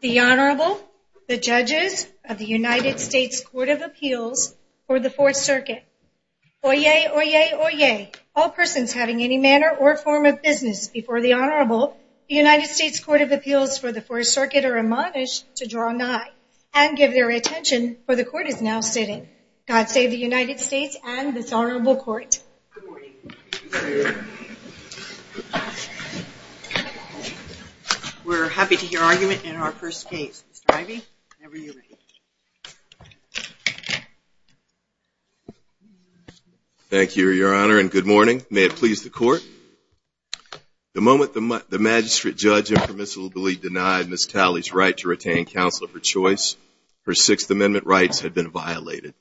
The Honorable, the Judges of the United States Court of Appeals for the Fourth Circuit. Oyez, oyez, oyez, all persons having any manner or form of business before the Honorable, the United States Court of Appeals for the Fourth Circuit are admonished to draw nigh and give their attention, for the Court is now sitting. God save the United States and this Honorable Court. We're happy to hear argument in our first case. Mr. Ivey, whenever you're ready. Thank you, Your Honor, and good morning. May it please the Court. The moment the magistrate judge impermissibly denied Ms. Talley's right to retain counsel of her choice, her Sixth Amendment rights had been violated.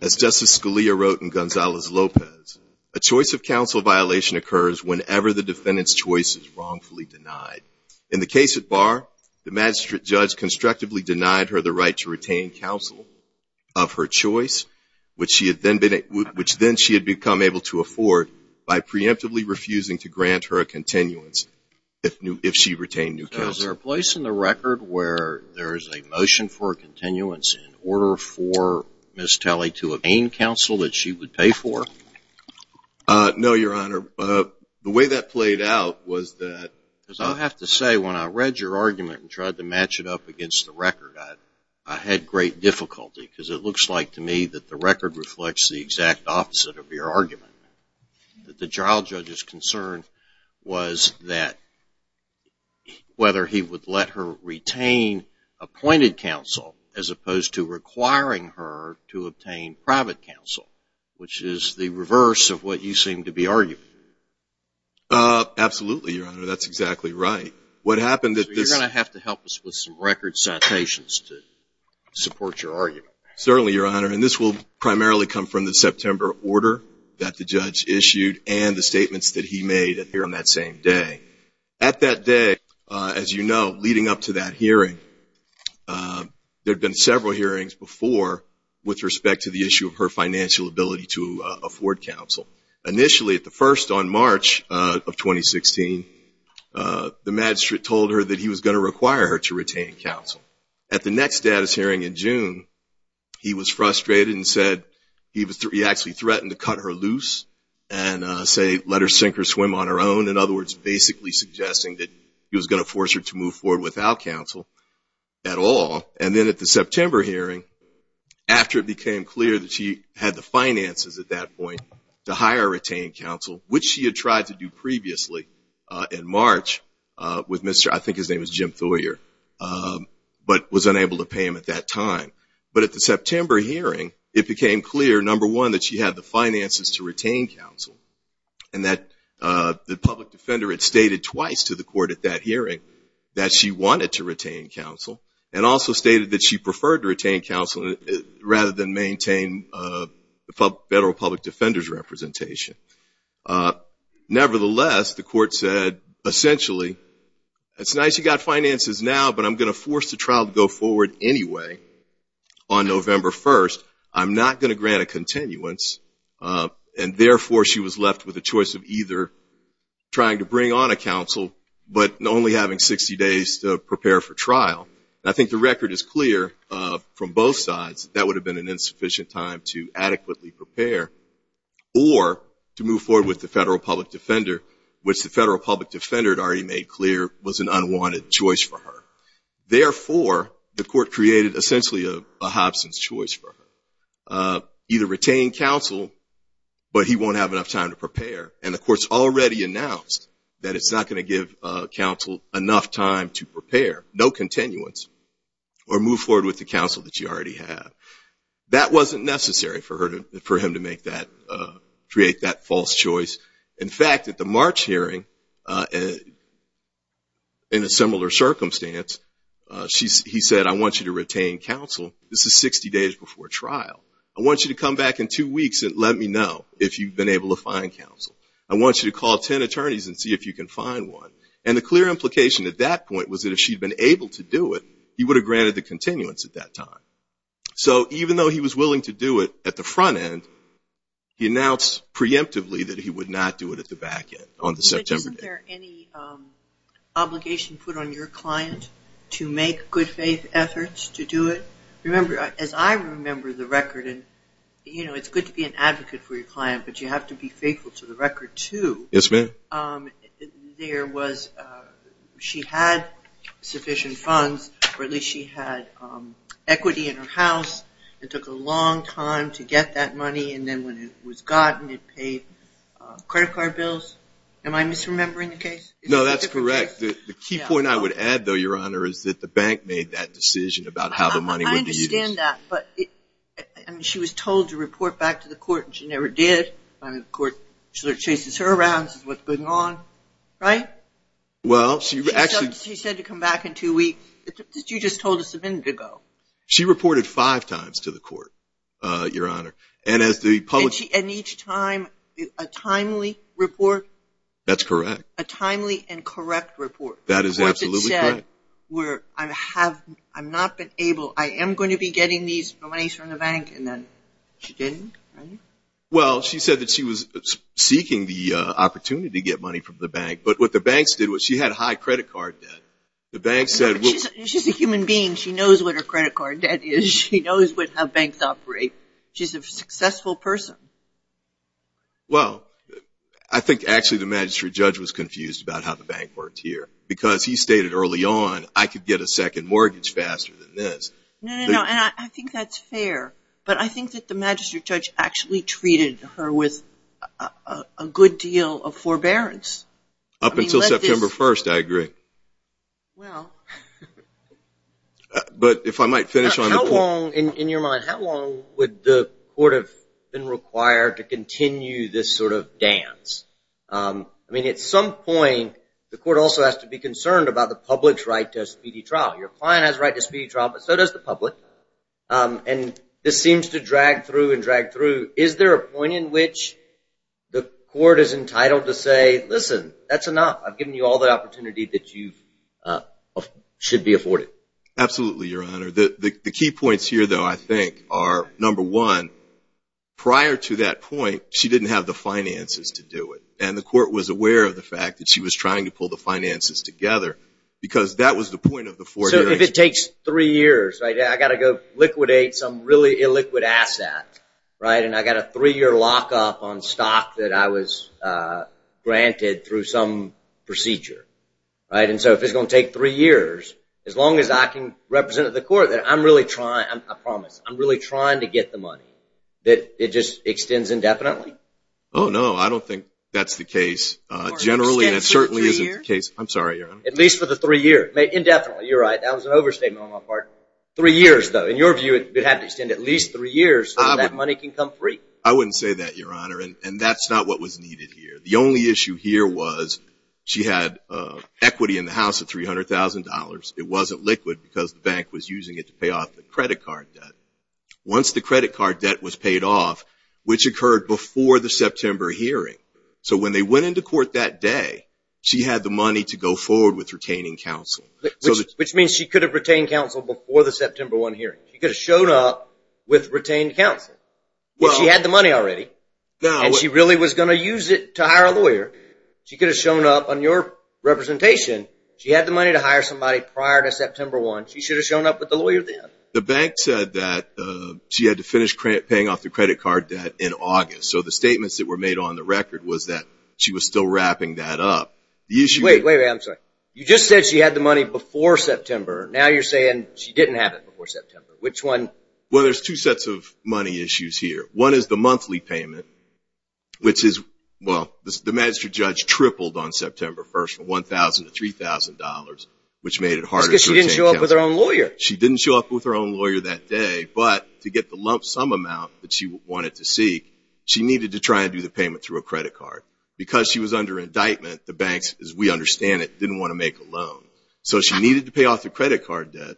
As Justice Scalia wrote in Gonzales-Lopez, a choice of counsel violation occurs whenever the defendant's choice is wrongfully denied. In the case of Barr, the magistrate judge constructively denied her the right to retain counsel of her choice, which then she had become able to afford by preemptively refusing to grant her a continuance, if she retained new counsel. Is there a place in the record where there is a motion for a continuance in order for Ms. Talley to obtain counsel that she would pay for? No, Your Honor. The way that played out was that... I have to say, when I read your argument and tried to match it up against the record, I had great difficulty because it looks like to me that the record reflects the exact opposite of your argument. The trial judge's concern was that whether he would let her retain appointed counsel as opposed to requiring her to obtain private counsel, which is the reverse of what you seem to be arguing. Absolutely, Your Honor. That's exactly right. You're going to have to help us with some record citations to support your argument. Certainly, Your Honor. And this will primarily come from the September order that the judge issued and the statements that he made here on that same day. At that day, as you know, leading up to that hearing, there had been several hearings before with respect to the issue of her financial ability to afford counsel. Initially, at the first on March of 2016, the magistrate told her that he was going to require her to retain counsel. At the next status hearing in June, he was frustrated and said he actually threatened to cut her loose and say let her sink or swim on her own. In other words, basically suggesting that he was going to force her to move forward without counsel at all. And then at the September hearing, after it became clear that she had the finances at that point to hire or retain counsel, which she had tried to do previously in March with Mr. I think his name was Jim Thoyer, but was unable to pay him at that time. But at the September hearing, it became clear, number one, that she had the finances to retain counsel. And that the public defender had stated twice to the court at that hearing that she wanted to retain counsel and also stated that she preferred to retain counsel rather than maintain federal public defender's representation. Nevertheless, the court said, essentially, it's nice you got finances now, but I'm going to force the trial to go forward anyway on November 1st. I'm not going to grant a continuance. And therefore, she was left with a choice of either trying to bring on a counsel, but only having 60 days to prepare for trial. I think the record is clear from both sides that that would have been an insufficient time to adequately prepare or to move forward with the federal public defender, which the federal public defender had already made clear was an unwanted choice for her. Therefore, the court created, essentially, a Hobson's choice for her. Either retain counsel, but he won't have enough time to prepare. And the court's already announced that it's not going to give counsel enough time to prepare, no continuance, or move forward with the counsel that you already have. That wasn't necessary for him to create that false choice. In fact, at the March hearing, in a similar circumstance, he said, I want you to retain counsel. This is 60 days before trial. I want you to come back in two weeks and let me know if you've been able to find counsel. I want you to call 10 attorneys and see if you can find one. And the clear implication at that point was that if she'd been able to do it, he would have granted the continuance at that time. So even though he was willing to do it at the front end, he announced preemptively that he would not do it at the back end on the September day. Isn't there any obligation put on your client to make good faith efforts to do it? Remember, as I remember the record, and, you know, it's good to be an advocate for your client, but you have to be faithful to the record, too. Yes, ma'am. There was ‑‑ she had sufficient funds, or at least she had equity in her house. It took a long time to get that money, and then when it was gotten, it paid credit card bills. Am I misremembering the case? No, that's correct. The key point I would add, though, Your Honor, is that the bank made that decision about how the money would be used. I understand that, but she was told to report back to the court, and she never did. The court sort of chases her around, says, what's going on, right? Well, she actually ‑‑ She said to come back in two weeks. You just told us a minute ago. She reported five times to the court, Your Honor. And as the public ‑‑ And each time, a timely report? That's correct. A timely and correct report. That is absolutely correct. A court that said, I'm not able, I am going to be getting these monies from the bank, and then she didn't, right? Well, she said that she was seeking the opportunity to get money from the bank, but what the banks did was she had high credit card debt. The banks said ‑‑ She's a human being. She knows what her credit card debt is. She knows how banks operate. She's a successful person. Well, I think actually the magistrate judge was confused about how the bank worked here, because he stated early on, I could get a second mortgage faster than this. No, no, no, and I think that's fair, but I think that the magistrate judge actually treated her with a good deal of forbearance. Up until September 1st, I agree. Well. But if I might finish on that point. How long, in your mind, how long would the court have been required to continue this sort of dance? I mean, at some point, the court also has to be concerned about the public's right to a speedy trial. Your client has a right to a speedy trial, but so does the public. And this seems to drag through and drag through. Is there a point in which the court is entitled to say, listen, that's enough. I've given you all the opportunity that you should be afforded? Absolutely, Your Honor. The key points here, though, I think, are, number one, prior to that point, she didn't have the finances to do it, and the court was aware of the fact that she was trying to pull the finances together, because that was the point of the forbearance. So if it takes three years, I've got to go liquidate some really illiquid asset, right? And I've got a three-year lockup on stock that I was granted through some procedure, right? And so if it's going to take three years, as long as I can represent the court that I'm really trying, I promise, I'm really trying to get the money, that it just extends indefinitely? Oh, no. I don't think that's the case. Generally, that certainly isn't the case. I'm sorry, Your Honor. At least for the three years. Indefinitely. You're right. That was an overstatement on my part. Three years, though. In your view, it would have to extend at least three years so that money can come free. I wouldn't say that, Your Honor, and that's not what was needed here. The only issue here was she had equity in the house of $300,000. It wasn't liquid because the bank was using it to pay off the credit card debt. Once the credit card debt was paid off, which occurred before the September hearing, so when they went into court that day, she had the money to go forward with retaining counsel. Which means she could have retained counsel before the September 1 hearing. She could have shown up with retained counsel if she had the money already and she really was going to use it to hire a lawyer. She could have shown up on your representation. She had the money to hire somebody prior to September 1. She should have shown up with the lawyer then. The bank said that she had to finish paying off the credit card debt in August. So the statements that were made on the record was that she was still wrapping that up. Wait, wait, I'm sorry. You just said she had the money before September. Now you're saying she didn't have it before September. Which one? Well, there's two sets of money issues here. One is the monthly payment, which is, well, the magistrate judge tripled on September 1 from $1,000 to $3,000, which made it harder to retain counsel. Because she didn't show up with her own lawyer. She didn't show up with her own lawyer that day, but to get the lump sum amount that she wanted to seek, she needed to try and do the payment through a credit card. Because she was under indictment, the banks, as we understand it, didn't want to make a loan. So she needed to pay off the credit card debt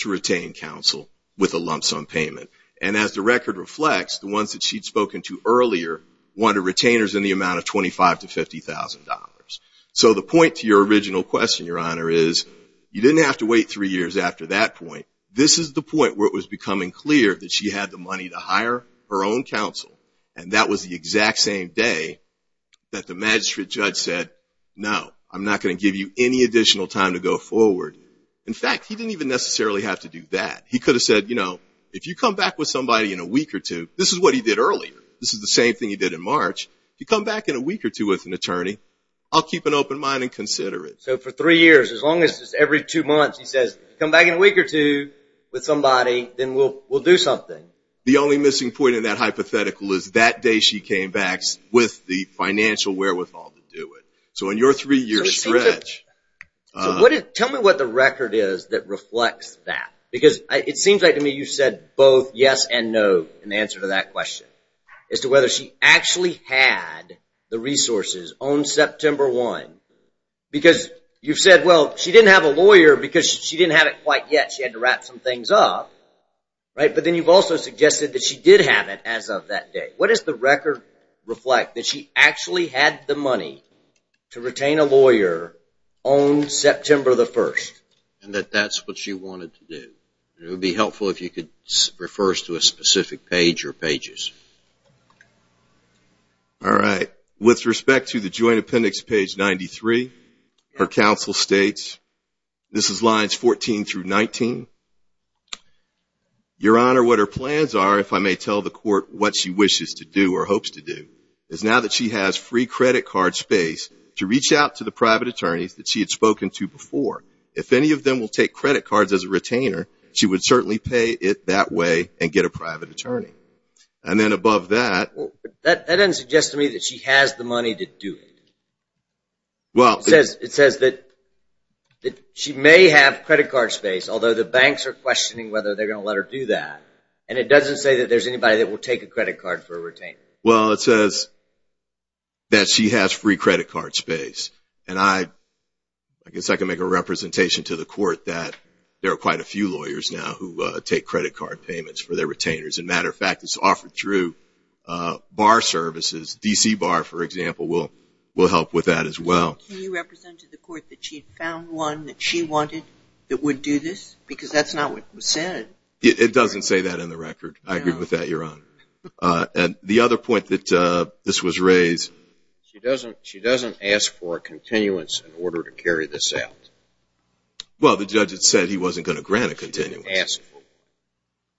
to retain counsel with a lump sum payment. And as the record reflects, the ones that she'd spoken to earlier wanted retainers in the amount of $25,000 to $50,000. So the point to your original question, Your Honor, is you didn't have to wait three years after that point. This is the point where it was becoming clear that she had the money to hire her own counsel, and that was the exact same day that the magistrate judge said, no, I'm not going to give you any additional time to go forward. In fact, he didn't even necessarily have to do that. He could have said, you know, if you come back with somebody in a week or two, this is what he did earlier. This is the same thing he did in March. If you come back in a week or two with an attorney, I'll keep an open mind and consider it. So for three years, as long as it's every two months, he says, come back in a week or two with somebody, then we'll do something. The only missing point in that hypothetical is that day she came back with the financial wherewithal to do it. So in your three-year stretch. Tell me what the record is that reflects that. Because it seems like to me you said both yes and no in answer to that question, as to whether she actually had the resources on September 1. Because you've said, well, she didn't have a lawyer because she didn't have it quite yet. She had to wrap some things up. But then you've also suggested that she did have it as of that day. What does the record reflect that she actually had the money to retain a lawyer on September 1? And that that's what she wanted to do. It would be helpful if you could refer us to a specific page or pages. All right. With respect to the joint appendix, page 93, her counsel states, this is lines 14 through 19. Your Honor, what her plans are, if I may tell the court what she wishes to do or hopes to do, is now that she has free credit card space to reach out to the private attorneys that she had spoken to before. If any of them will take credit cards as a retainer, she would certainly pay it that way and get a private attorney. And then above that. That doesn't suggest to me that she has the money to do it. It says that she may have credit card space, although the banks are questioning whether they're going to let her do that. And it doesn't say that there's anybody that will take a credit card for a retainer. Well, it says that she has free credit card space. And I guess I can make a representation to the court that there are quite a few lawyers now who take credit card payments for their retainers. As a matter of fact, it's offered through bar services. DC Bar, for example, will help with that as well. Can you represent to the court that she found one that she wanted that would do this? Because that's not what was said. It doesn't say that in the record. I agree with that, Your Honor. And the other point that this was raised. She doesn't ask for a continuance in order to carry this out. Well, the judge had said he wasn't going to grant a continuance.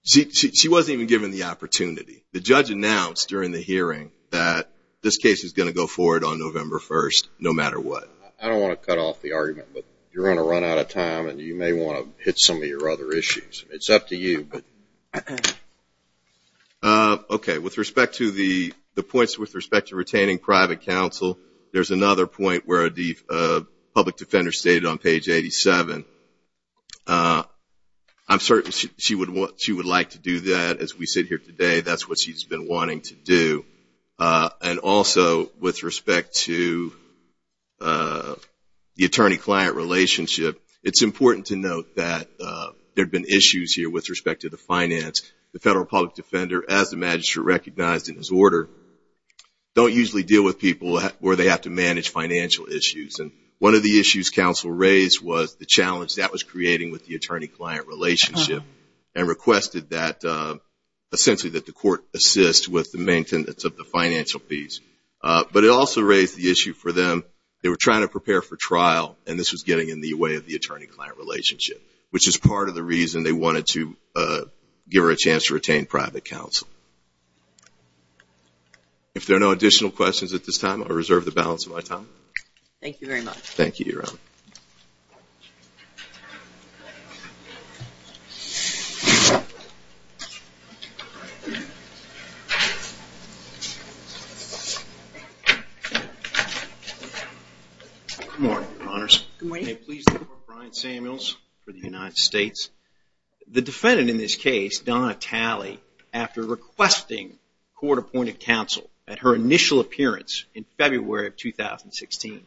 She wasn't even given the opportunity. The judge announced during the hearing that this case is going to go forward on November 1st, no matter what. I don't want to cut off the argument, but you're going to run out of time, and you may want to hit some of your other issues. It's up to you. Okay, with respect to the points with respect to retaining private counsel, there's another point where a public defender stated on page 87. I'm certain she would like to do that. As we sit here today, that's what she's been wanting to do. And also, with respect to the attorney-client relationship, it's important to note that there have been issues here with respect to the finance. The federal public defender, as the magistrate recognized in his order, don't usually deal with people where they have to manage financial issues. And one of the issues counsel raised was the challenge that was creating with the attorney-client relationship and requested that the court assist with the maintenance of the financial fees. But it also raised the issue for them, they were trying to prepare for trial, and this was getting in the way of the attorney-client relationship, which is part of the reason they wanted to give her a chance to retain private counsel. If there are no additional questions at this time, I'll reserve the balance of my time. Thank you very much. Thank you, Your Honor. Good morning, Your Honors. Good morning. May it please the Court, Brian Samuels for the United States. The defendant in this case, Donna Talley, after requesting court-appointed counsel at her initial appearance in February of 2016,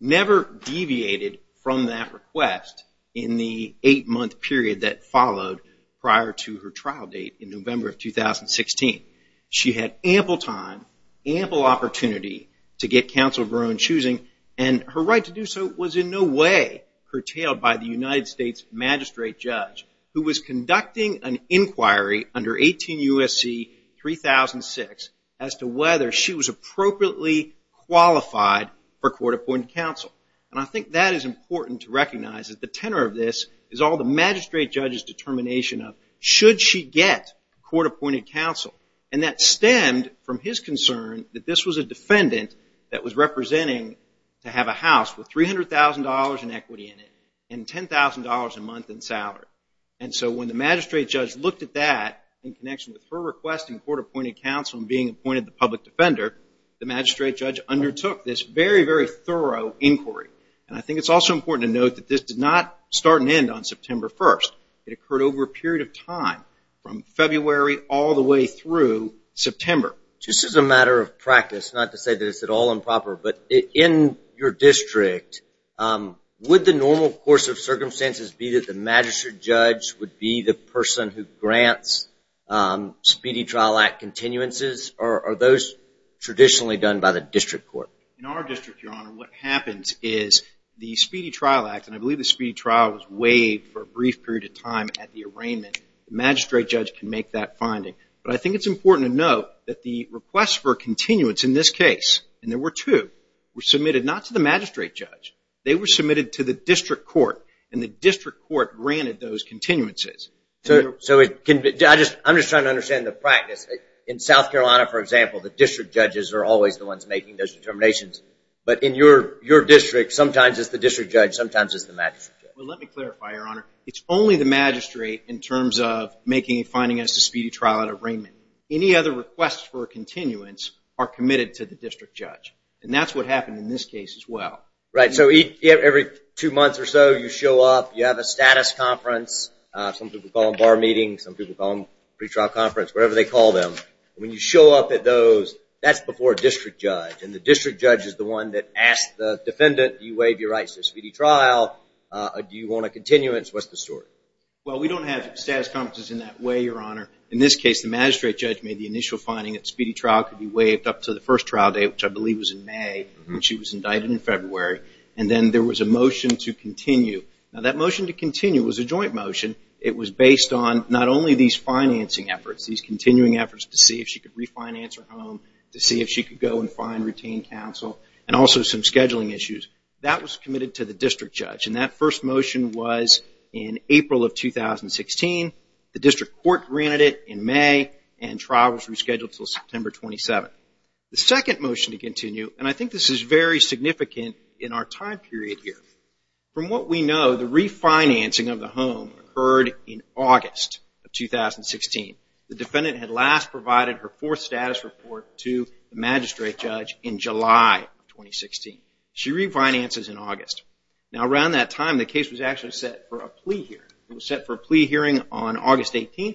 never deviated from that request in the eight-month period that followed prior to her trial date in November of 2016. She had ample time, ample opportunity to get counsel of her own choosing, and her right to do so was in no way curtailed by the United States magistrate judge, who was conducting an inquiry under 18 U.S.C. 3006 as to whether she was appropriately qualified for court-appointed counsel. And I think that is important to recognize, that the tenor of this is all the magistrate judge's determination of, should she get court-appointed counsel? And that stemmed from his concern that this was a defendant that was representing to have a house with $300,000 in equity in it and $10,000 a month in salary. And so when the magistrate judge looked at that in connection with her requesting court-appointed counsel and being appointed the public defender, the magistrate judge undertook this very, very thorough inquiry. And I think it's also important to note that this did not start and end on September 1st. It occurred over a period of time from February all the way through September. Just as a matter of practice, not to say that it's at all improper, but in your district, would the normal course of circumstances be that the magistrate judge would be the person who grants speedy trial act continuances, or are those traditionally done by the district court? In our district, Your Honor, what happens is the speedy trial act, and I believe the speedy trial was waived for a brief period of time at the arraignment, the magistrate judge can make that finding. But I think it's important to note that the request for continuance in this case, and there were two, were submitted not to the magistrate judge. They were submitted to the district court, and the district court granted those continuances. So I'm just trying to understand the practice. In South Carolina, for example, the district judges are always the ones making those determinations. But in your district, sometimes it's the district judge, sometimes it's the magistrate judge. Well, let me clarify, Your Honor. It's only the magistrate in terms of making a finding as to speedy trial at arraignment. Any other requests for continuance are committed to the district judge, and that's what happened in this case as well. Right. So every two months or so, you show up, you have a status conference, some people call them bar meetings, some people call them pretrial conference, whatever they call them. When you show up at those, that's before a district judge, and the district judge is the one that asks the defendant, do you waive your rights to a speedy trial? Do you want a continuance? What's the story? Well, we don't have status conferences in that way, Your Honor. In this case, the magistrate judge made the initial finding that speedy trial could be waived up to the first trial date, which I believe was in May, and she was indicted in February. And then there was a motion to continue. Now, that motion to continue was a joint motion. It was based on not only these financing efforts, these continuing efforts to see if she could refinance her home, to see if she could go and find, retain counsel, and also some scheduling issues. That was committed to the district judge, and that first motion was in April of 2016. The district court granted it in May, and trial was rescheduled until September 27. The second motion to continue, and I think this is very significant in our time period here. From what we know, the refinancing of the home occurred in August of 2016. The defendant had last provided her fourth status report to the magistrate judge in July of 2016. She refinances in August. Now, around that time, the case was actually set for a plea hearing. It was set for a plea hearing on August 18,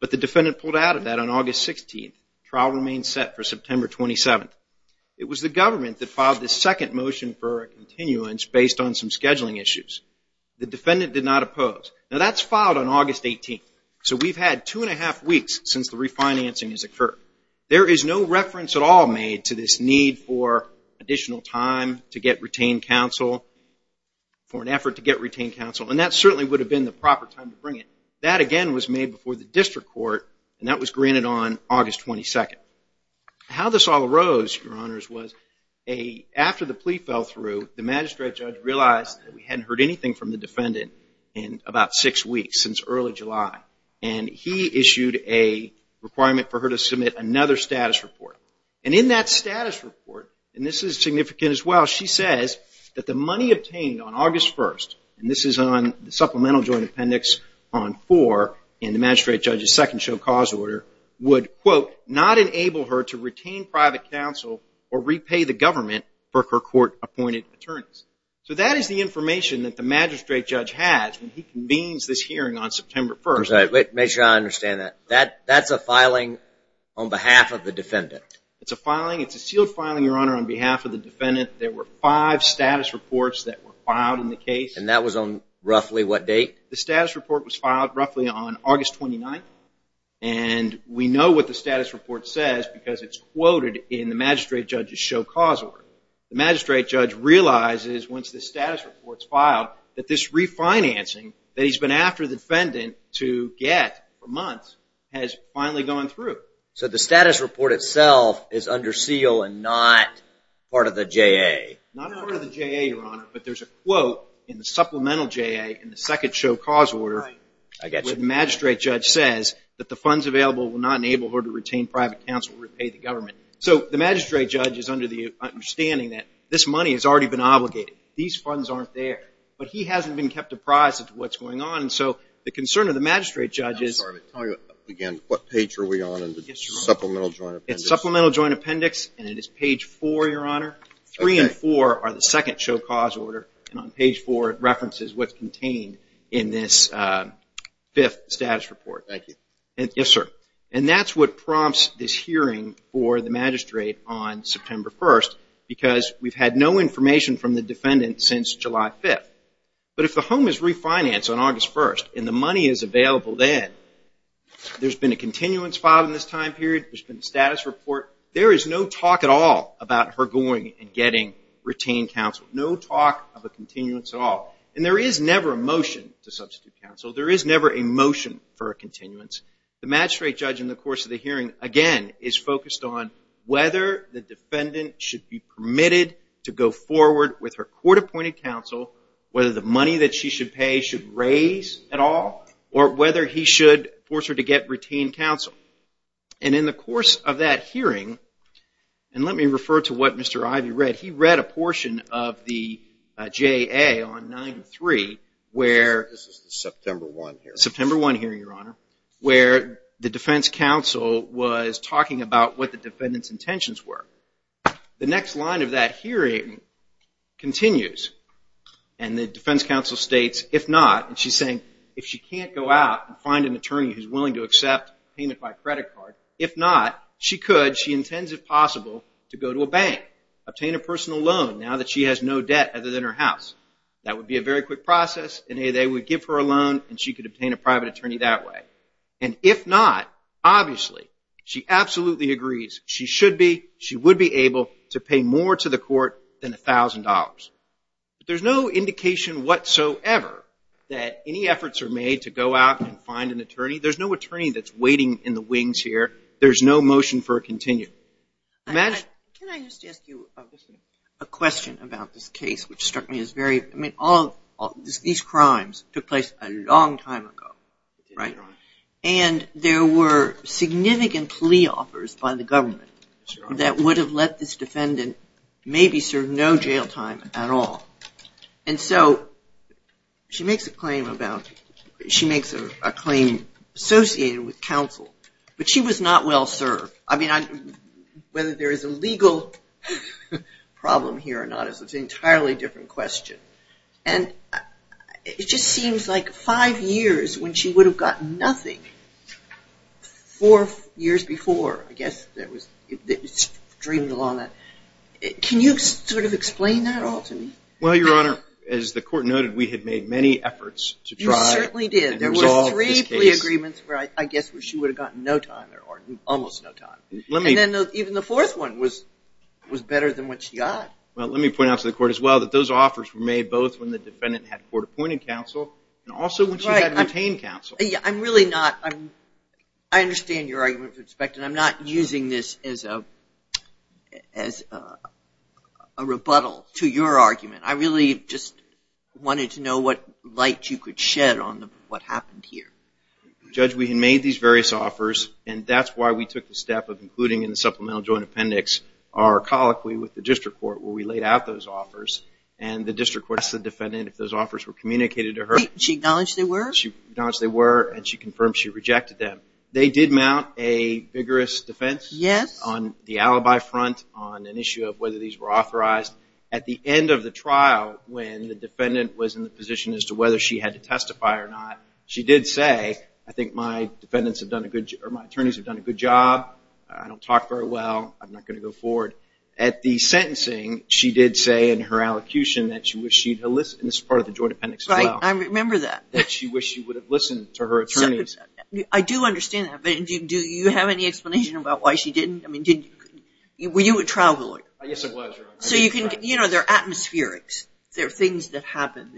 but the defendant pulled out of that on August 16. Trial remains set for September 27. It was the government that filed this second motion for a continuance based on some scheduling issues. The defendant did not oppose. Now, that's filed on August 18. So we've had two and a half weeks since the refinancing has occurred. There is no reference at all made to this need for additional time to get retained counsel, for an effort to get retained counsel, and that certainly would have been the proper time to bring it. That, again, was made before the district court, and that was granted on August 22. How this all arose, Your Honors, was after the plea fell through, the magistrate judge realized that we hadn't heard anything from the defendant in about six weeks, since early July, and he issued a requirement for her to submit another status report. And in that status report, and this is significant as well, she says that the money obtained on August 1st, and this is on the supplemental joint appendix on 4 in the magistrate judge's second show cause order, would, quote, not enable her to retain private counsel or repay the government for her court-appointed attorneys. So that is the information that the magistrate judge has when he convenes this hearing on September 1st. I'm sorry, make sure I understand that. That's a filing on behalf of the defendant? It's a filing. It's a sealed filing, Your Honor, on behalf of the defendant. There were five status reports that were filed in the case. And that was on roughly what date? The status report was filed roughly on August 29th, and we know what the status report says because it's quoted in the magistrate judge's show cause order. The magistrate judge realizes, once the status report's filed, that this refinancing that he's been after the defendant to get for months has finally gone through. So the status report itself is under seal and not part of the JA? Not part of the JA, Your Honor, but there's a quote in the supplemental JA, in the second show cause order, where the magistrate judge says that the funds available will not enable her to retain private counsel or repay the government. So the magistrate judge is under the understanding that this money has already been obligated. These funds aren't there. But he hasn't been kept apprised as to what's going on, and so the concern of the magistrate judge is – I'm sorry. Again, what page are we on in the supplemental joint appendix? It's supplemental joint appendix, and it is page four, Your Honor. Three and four are the second show cause order, and on page four it references what's contained in this fifth status report. Thank you. Yes, sir. And that's what prompts this hearing for the magistrate on September 1st, because we've had no information from the defendant since July 5th. But if the home is refinanced on August 1st and the money is available then, there's been a continuance filed in this time period, there's been a status report. There is no talk at all about her going and getting retained counsel. No talk of a continuance at all. And there is never a motion to substitute counsel. There is never a motion for a continuance. The magistrate judge in the course of the hearing, again, is focused on whether the defendant should be permitted to go forward with her court-appointed counsel, whether the money that she should pay should raise at all, or whether he should force her to get retained counsel. And in the course of that hearing, and let me refer to what Mr. Ivey read, he read a portion of the JA on 9-3 where... This is the September 1 hearing. September 1 hearing, Your Honor, where the defense counsel was talking about what the defendant's intentions were. The next line of that hearing continues, and the defense counsel states, if not, and she's saying if she can't go out and find an attorney who's willing to accept payment by credit card, if not, she could, she intends, if possible, to go to a bank, obtain a personal loan now that she has no debt other than her house. That would be a very quick process, and they would give her a loan, and she could obtain a private attorney that way. And if not, obviously, she absolutely agrees she should be, But there's no indication whatsoever that any efforts are made to go out and find an attorney. There's no attorney that's waiting in the wings here. There's no motion for a continuum. Can I just ask you a question about this case, which struck me as very... I mean, all of these crimes took place a long time ago, right? And there were significant plea offers by the government that would have let this defendant maybe serve no jail time at all. And so she makes a claim about, she makes a claim associated with counsel, but she was not well served. I mean, whether there is a legal problem here or not is an entirely different question. And it just seems like five years when she would have gotten nothing, four years before, I guess, it streamed along that. Can you sort of explain that at all to me? Well, Your Honor, as the court noted, we had made many efforts to try and resolve this case. You certainly did. There were three plea agreements where I guess she would have gotten no time or almost no time. And then even the fourth one was better than what she got. Well, let me point out to the court as well that those offers were made both when the defendant had court-appointed counsel and also when she had obtained counsel. I'm really not, I understand your argument with respect, and I'm not using this as a rebuttal to your argument. I really just wanted to know what light you could shed on what happened here. Judge, we had made these various offers, and that's why we took the step of including in the supplemental joint appendix our colloquy with the district court where we laid out those offers. And the district court asked the defendant if those offers were communicated to her. She acknowledged they were? She acknowledged they were, and she confirmed she rejected them. They did mount a vigorous defense on the alibi front on an issue of whether these were authorized. At the end of the trial when the defendant was in the position as to whether she had to testify or not, she did say, I think my attorneys have done a good job. I don't talk very well. I'm not going to go forward. At the sentencing, she did say in her allocution that she wished she had, and this is part of the joint appendix as well. I remember that. That she wished she would have listened to her attorneys. I do understand that, but do you have any explanation about why she didn't? I mean, were you a trial lawyer? Yes, I was. So, you know, there are atmospherics. There are things that happen.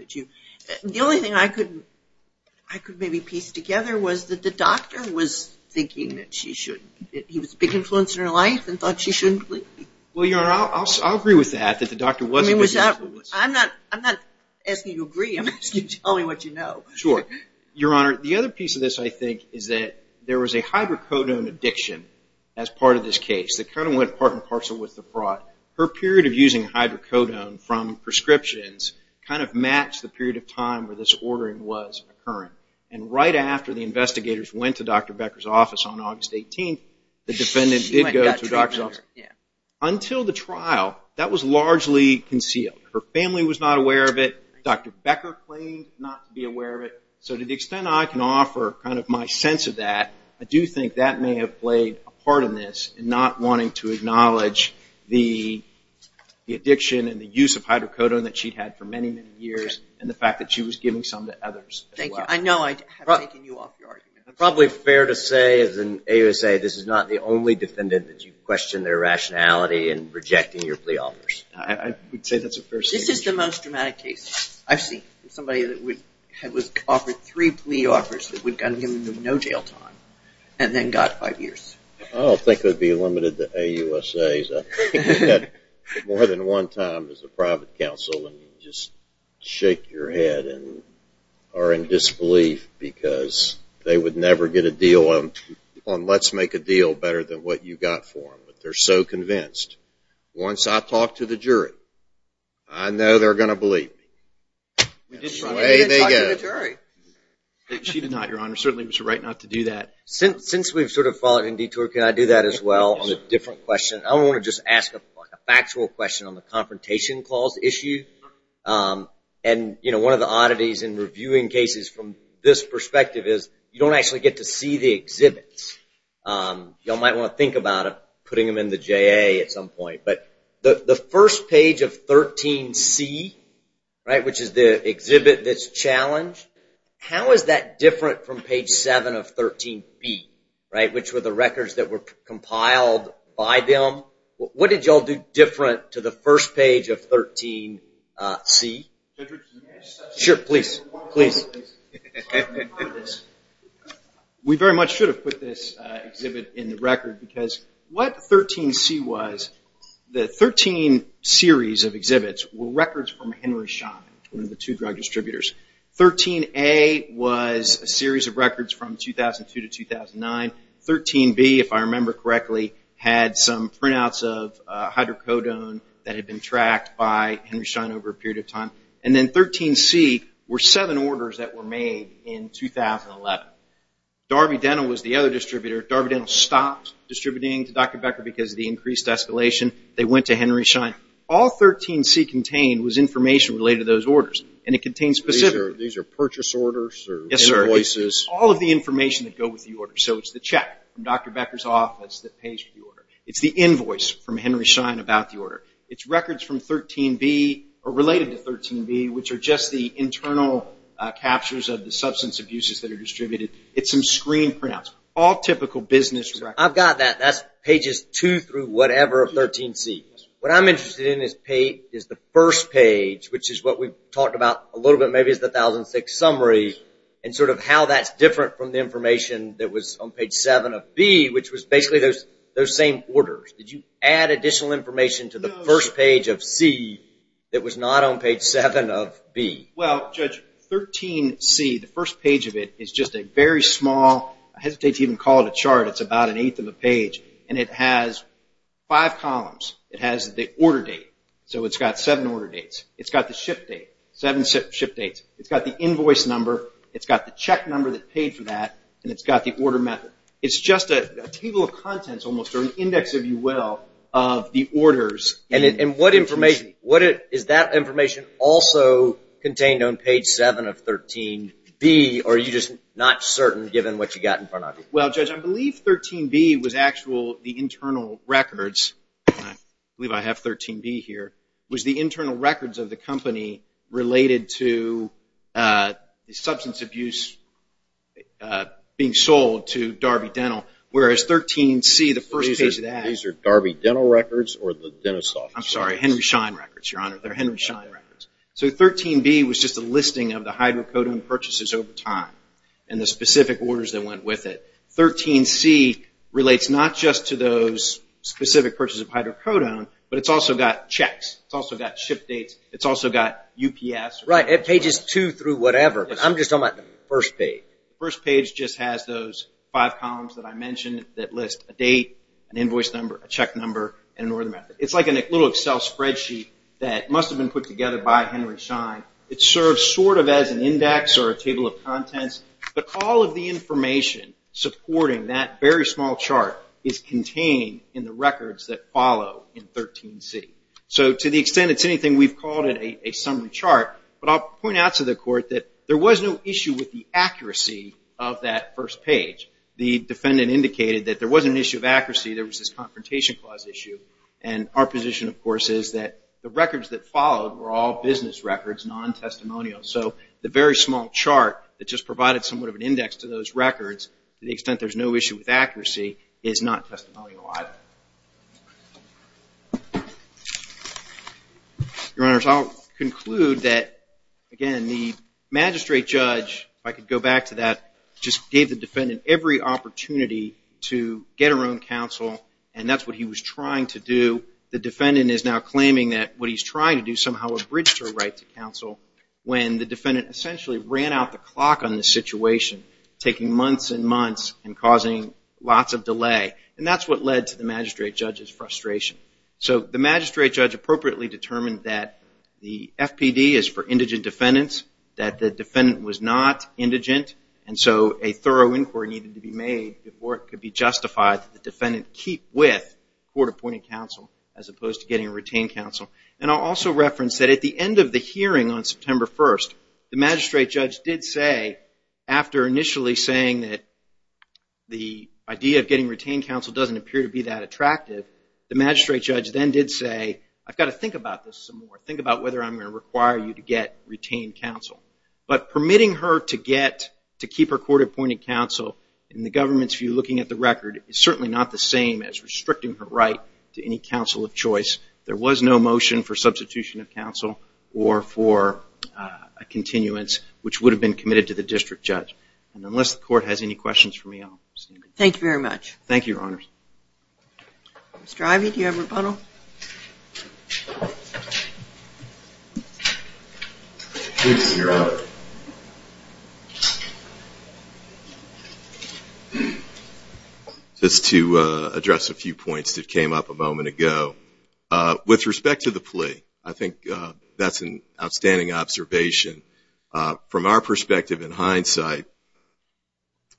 The only thing I could maybe piece together was that the doctor was thinking that she shouldn't. He was a big influence in her life and thought she shouldn't leave. I'm not asking you to agree. I'm asking you to tell me what you know. Sure. Your Honor, the other piece of this I think is that there was a hydrocodone addiction as part of this case that kind of went part and parcel with the fraud. Her period of using hydrocodone from prescriptions kind of matched the period of time where this ordering was occurring. And right after the investigators went to Dr. Becker's office on August 18th, the defendant did go to Dr. Becker's office. Until the trial, that was largely concealed. Her family was not aware of it. Dr. Becker claimed not to be aware of it. So to the extent I can offer kind of my sense of that, I do think that may have played a part in this in not wanting to acknowledge the addiction and the use of hydrocodone that she'd had for many, many years and the fact that she was giving some to others. Thank you. I know I have taken you off your argument. It's probably fair to say, as an AUSA, this is not the only defendant that you question their rationality in rejecting your plea offers. I would say that's a fair statement. This is the most dramatic case I've seen. Somebody that was offered three plea offers that would have given them no jail time and then got five years. I don't think it would be limited to AUSAs. I think you get more than one time as a private counsel and you just shake your head and are in disbelief because they would never get a deal on let's make a deal better than what you got for them. But they're so convinced. Once I talk to the jury, I know they're going to believe me. That's the way they go. She did not, Your Honor. Certainly it was right not to do that. Since we've sort of followed in detour, can I do that as well on a different question? I want to just ask a factual question on the confrontation clause issue. One of the oddities in reviewing cases from this perspective is you don't actually get to see the exhibits. You might want to think about putting them in the JA at some point. The first page of 13C, which is the exhibit that's challenged, how is that different from page 7 of 13B, which were the records that were compiled by them? What did you all do different to the first page of 13C? We very much should have put this exhibit in the record because what 13C was, the 13 series of exhibits, were records from Henry Schein, one of the two drug distributors. 13A was a series of records from 2002 to 2009. 13B, if I remember correctly, had some printouts of hydrocodone that had been tracked by Henry Schein over a period of time. Then 13C were seven orders that were made in 2011. Darby Dental was the other distributor. Darby Dental stopped distributing to Dr. Becker because of the increased escalation. They went to Henry Schein. All 13C contained was information related to those orders. These are purchase orders or invoices? Yes, sir. All of the information that go with the order. It's the check from Dr. Becker's office that pays for the order. It's the invoice from Henry Schein about the order. It's records from 13B or related to 13B, which are just the internal captures of the substance abuses that are distributed. It's some screen printouts, all typical business records. I've got that. That's pages 2 through whatever of 13C. What I'm interested in is the first page, which is what we've talked about a little bit, maybe it's the 1006 summary, and sort of how that's different from the information that was on page 7 of B, which was basically those same orders. Did you add additional information to the first page of C that was not on page 7 of B? Well, Judge, 13C, the first page of it, is just a very small, I hesitate to even call it a chart, it's about an eighth of a page, and it has five columns. It has the order date, so it's got seven order dates. It's got the ship date, seven ship dates. It's got the invoice number, it's got the check number that paid for that, and it's got the order method. It's just a table of contents almost, or an index, if you will, of the orders. And what information, is that information also contained on page 7 of 13B, or are you just not certain given what you've got in front of you? Well, Judge, I believe 13B was actual, the internal records, I believe I have 13B here, was the internal records of the company related to substance abuse being sold to Darby Dental, whereas 13C, the first page of that. These are Darby Dental records or the dentist office records? I'm sorry, Henry Schein records, Your Honor, they're Henry Schein records. So 13B was just a listing of the hydrocodone purchases over time and the specific orders that went with it. 13C relates not just to those specific purchases of hydrocodone, but it's also got checks, it's also got ship dates, it's also got UPS. Right, pages 2 through whatever, but I'm just talking about the first page. The first page just has those five columns that I mentioned that list a date, an invoice number, a check number, and an order method. It's like a little Excel spreadsheet that must have been put together by Henry Schein. It serves sort of as an index or a table of contents, but all of the information supporting that very small chart is contained in the records that follow in 13C. So to the extent it's anything, we've called it a summary chart, but I'll point out to the court that there was no issue with the accuracy of that first page. The defendant indicated that there was an issue of accuracy, there was this confrontation clause issue, and our position, of course, is that the records that followed were all business records, non-testimonial. So the very small chart that just provided somewhat of an index to those records, to the extent there's no issue with accuracy, is not testimonial either. Your Honors, I'll conclude that, again, the magistrate judge, if I could go back to that, just gave the defendant every opportunity to get her own counsel, and that's what he was trying to do. The defendant is now claiming that what he's trying to do somehow abridged her right to counsel when the defendant essentially ran out the clock on the situation, taking months and months and causing lots of delay, and that's what led to the magistrate judge's frustration. So the magistrate judge appropriately determined that the FPD is for indigent defendants, that the defendant was not indigent, and so a thorough inquiry needed to be made before it could be justified that the defendant keep with court-appointed counsel as opposed to getting a retained counsel. And I'll also reference that at the end of the hearing on September 1st, the magistrate judge did say, after initially saying that the idea of getting retained counsel doesn't appear to be that attractive, the magistrate judge then did say, I've got to think about this some more. Think about whether I'm going to require you to get retained counsel. But permitting her to get, to keep her court-appointed counsel, in the government's view looking at the record, there was no motion for substitution of counsel or for a continuance, which would have been committed to the district judge. And unless the court has any questions for me, I'll stand adjourned. Thank you very much. Thank you, Your Honors. Mr. Ivey, do you have a rebuttal? Please, Your Honor. Just to address a few points that came up a moment ago. With respect to the plea, I think that's an outstanding observation. From our perspective, in hindsight,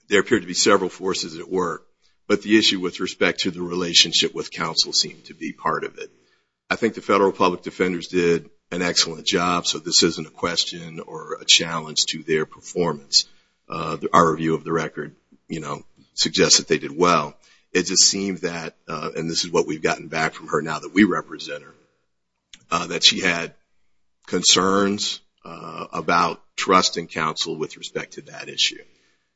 there appear to be several forces at work, but the issue with respect to the relationship with counsel seemed to be part of it. I think the federal public defenders did an excellent job, so this isn't a question or a challenge to their performance. Our review of the record suggests that they did well. It just seems that, and this is what we've gotten back from her now that we represent her, that she had concerns about trusting counsel with respect to that issue.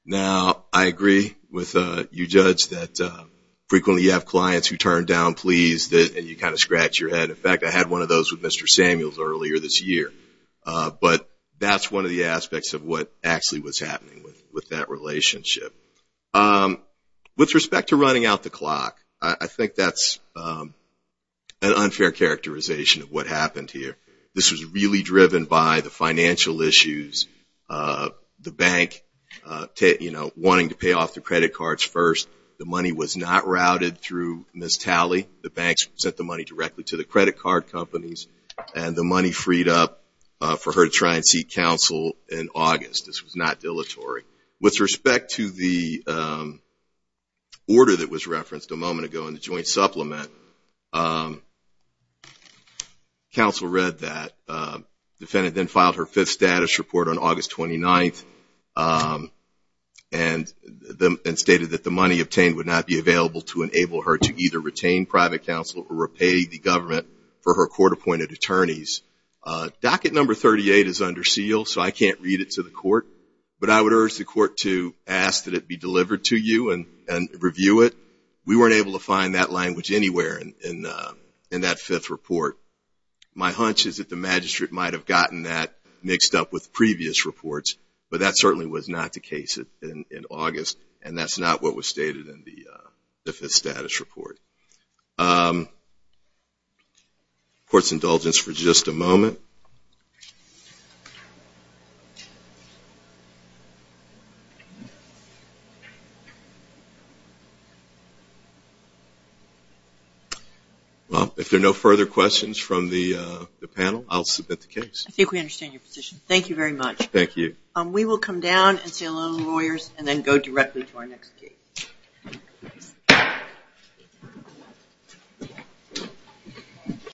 Now, I agree with you, Judge, that frequently you have clients who turn down pleas, and you kind of scratch your head. In fact, I had one of those with Mr. Samuels earlier this year, but that's one of the aspects of what actually was happening with that relationship. With respect to running out the clock, I think that's an unfair characterization of what happened here. This was really driven by the financial issues, the bank wanting to pay off the credit cards first. The money was not routed through Ms. Talley. The banks sent the money directly to the credit card companies, and the money freed up for her to try and seek counsel in August. This was not dilatory. With respect to the order that was referenced a moment ago in the joint supplement, counsel read that. The defendant then filed her fifth status report on August 29th and stated that the money obtained would not be available to enable her to either retain private counsel or repay the government for her court-appointed attorneys. Docket number 38 is under seal, so I can't read it to the court, but I would urge the court to ask that it be delivered to you and review it. We weren't able to find that language anywhere in that fifth report. My hunch is that the magistrate might have gotten that mixed up with previous reports, but that certainly was not the case in August, and that's not what was stated in the fifth status report. Court's indulgence for just a moment. If there are no further questions from the panel, I'll submit the case. I think we understand your position. Thank you very much. Thank you. We will come down and say hello to the lawyers and then go directly to our next case.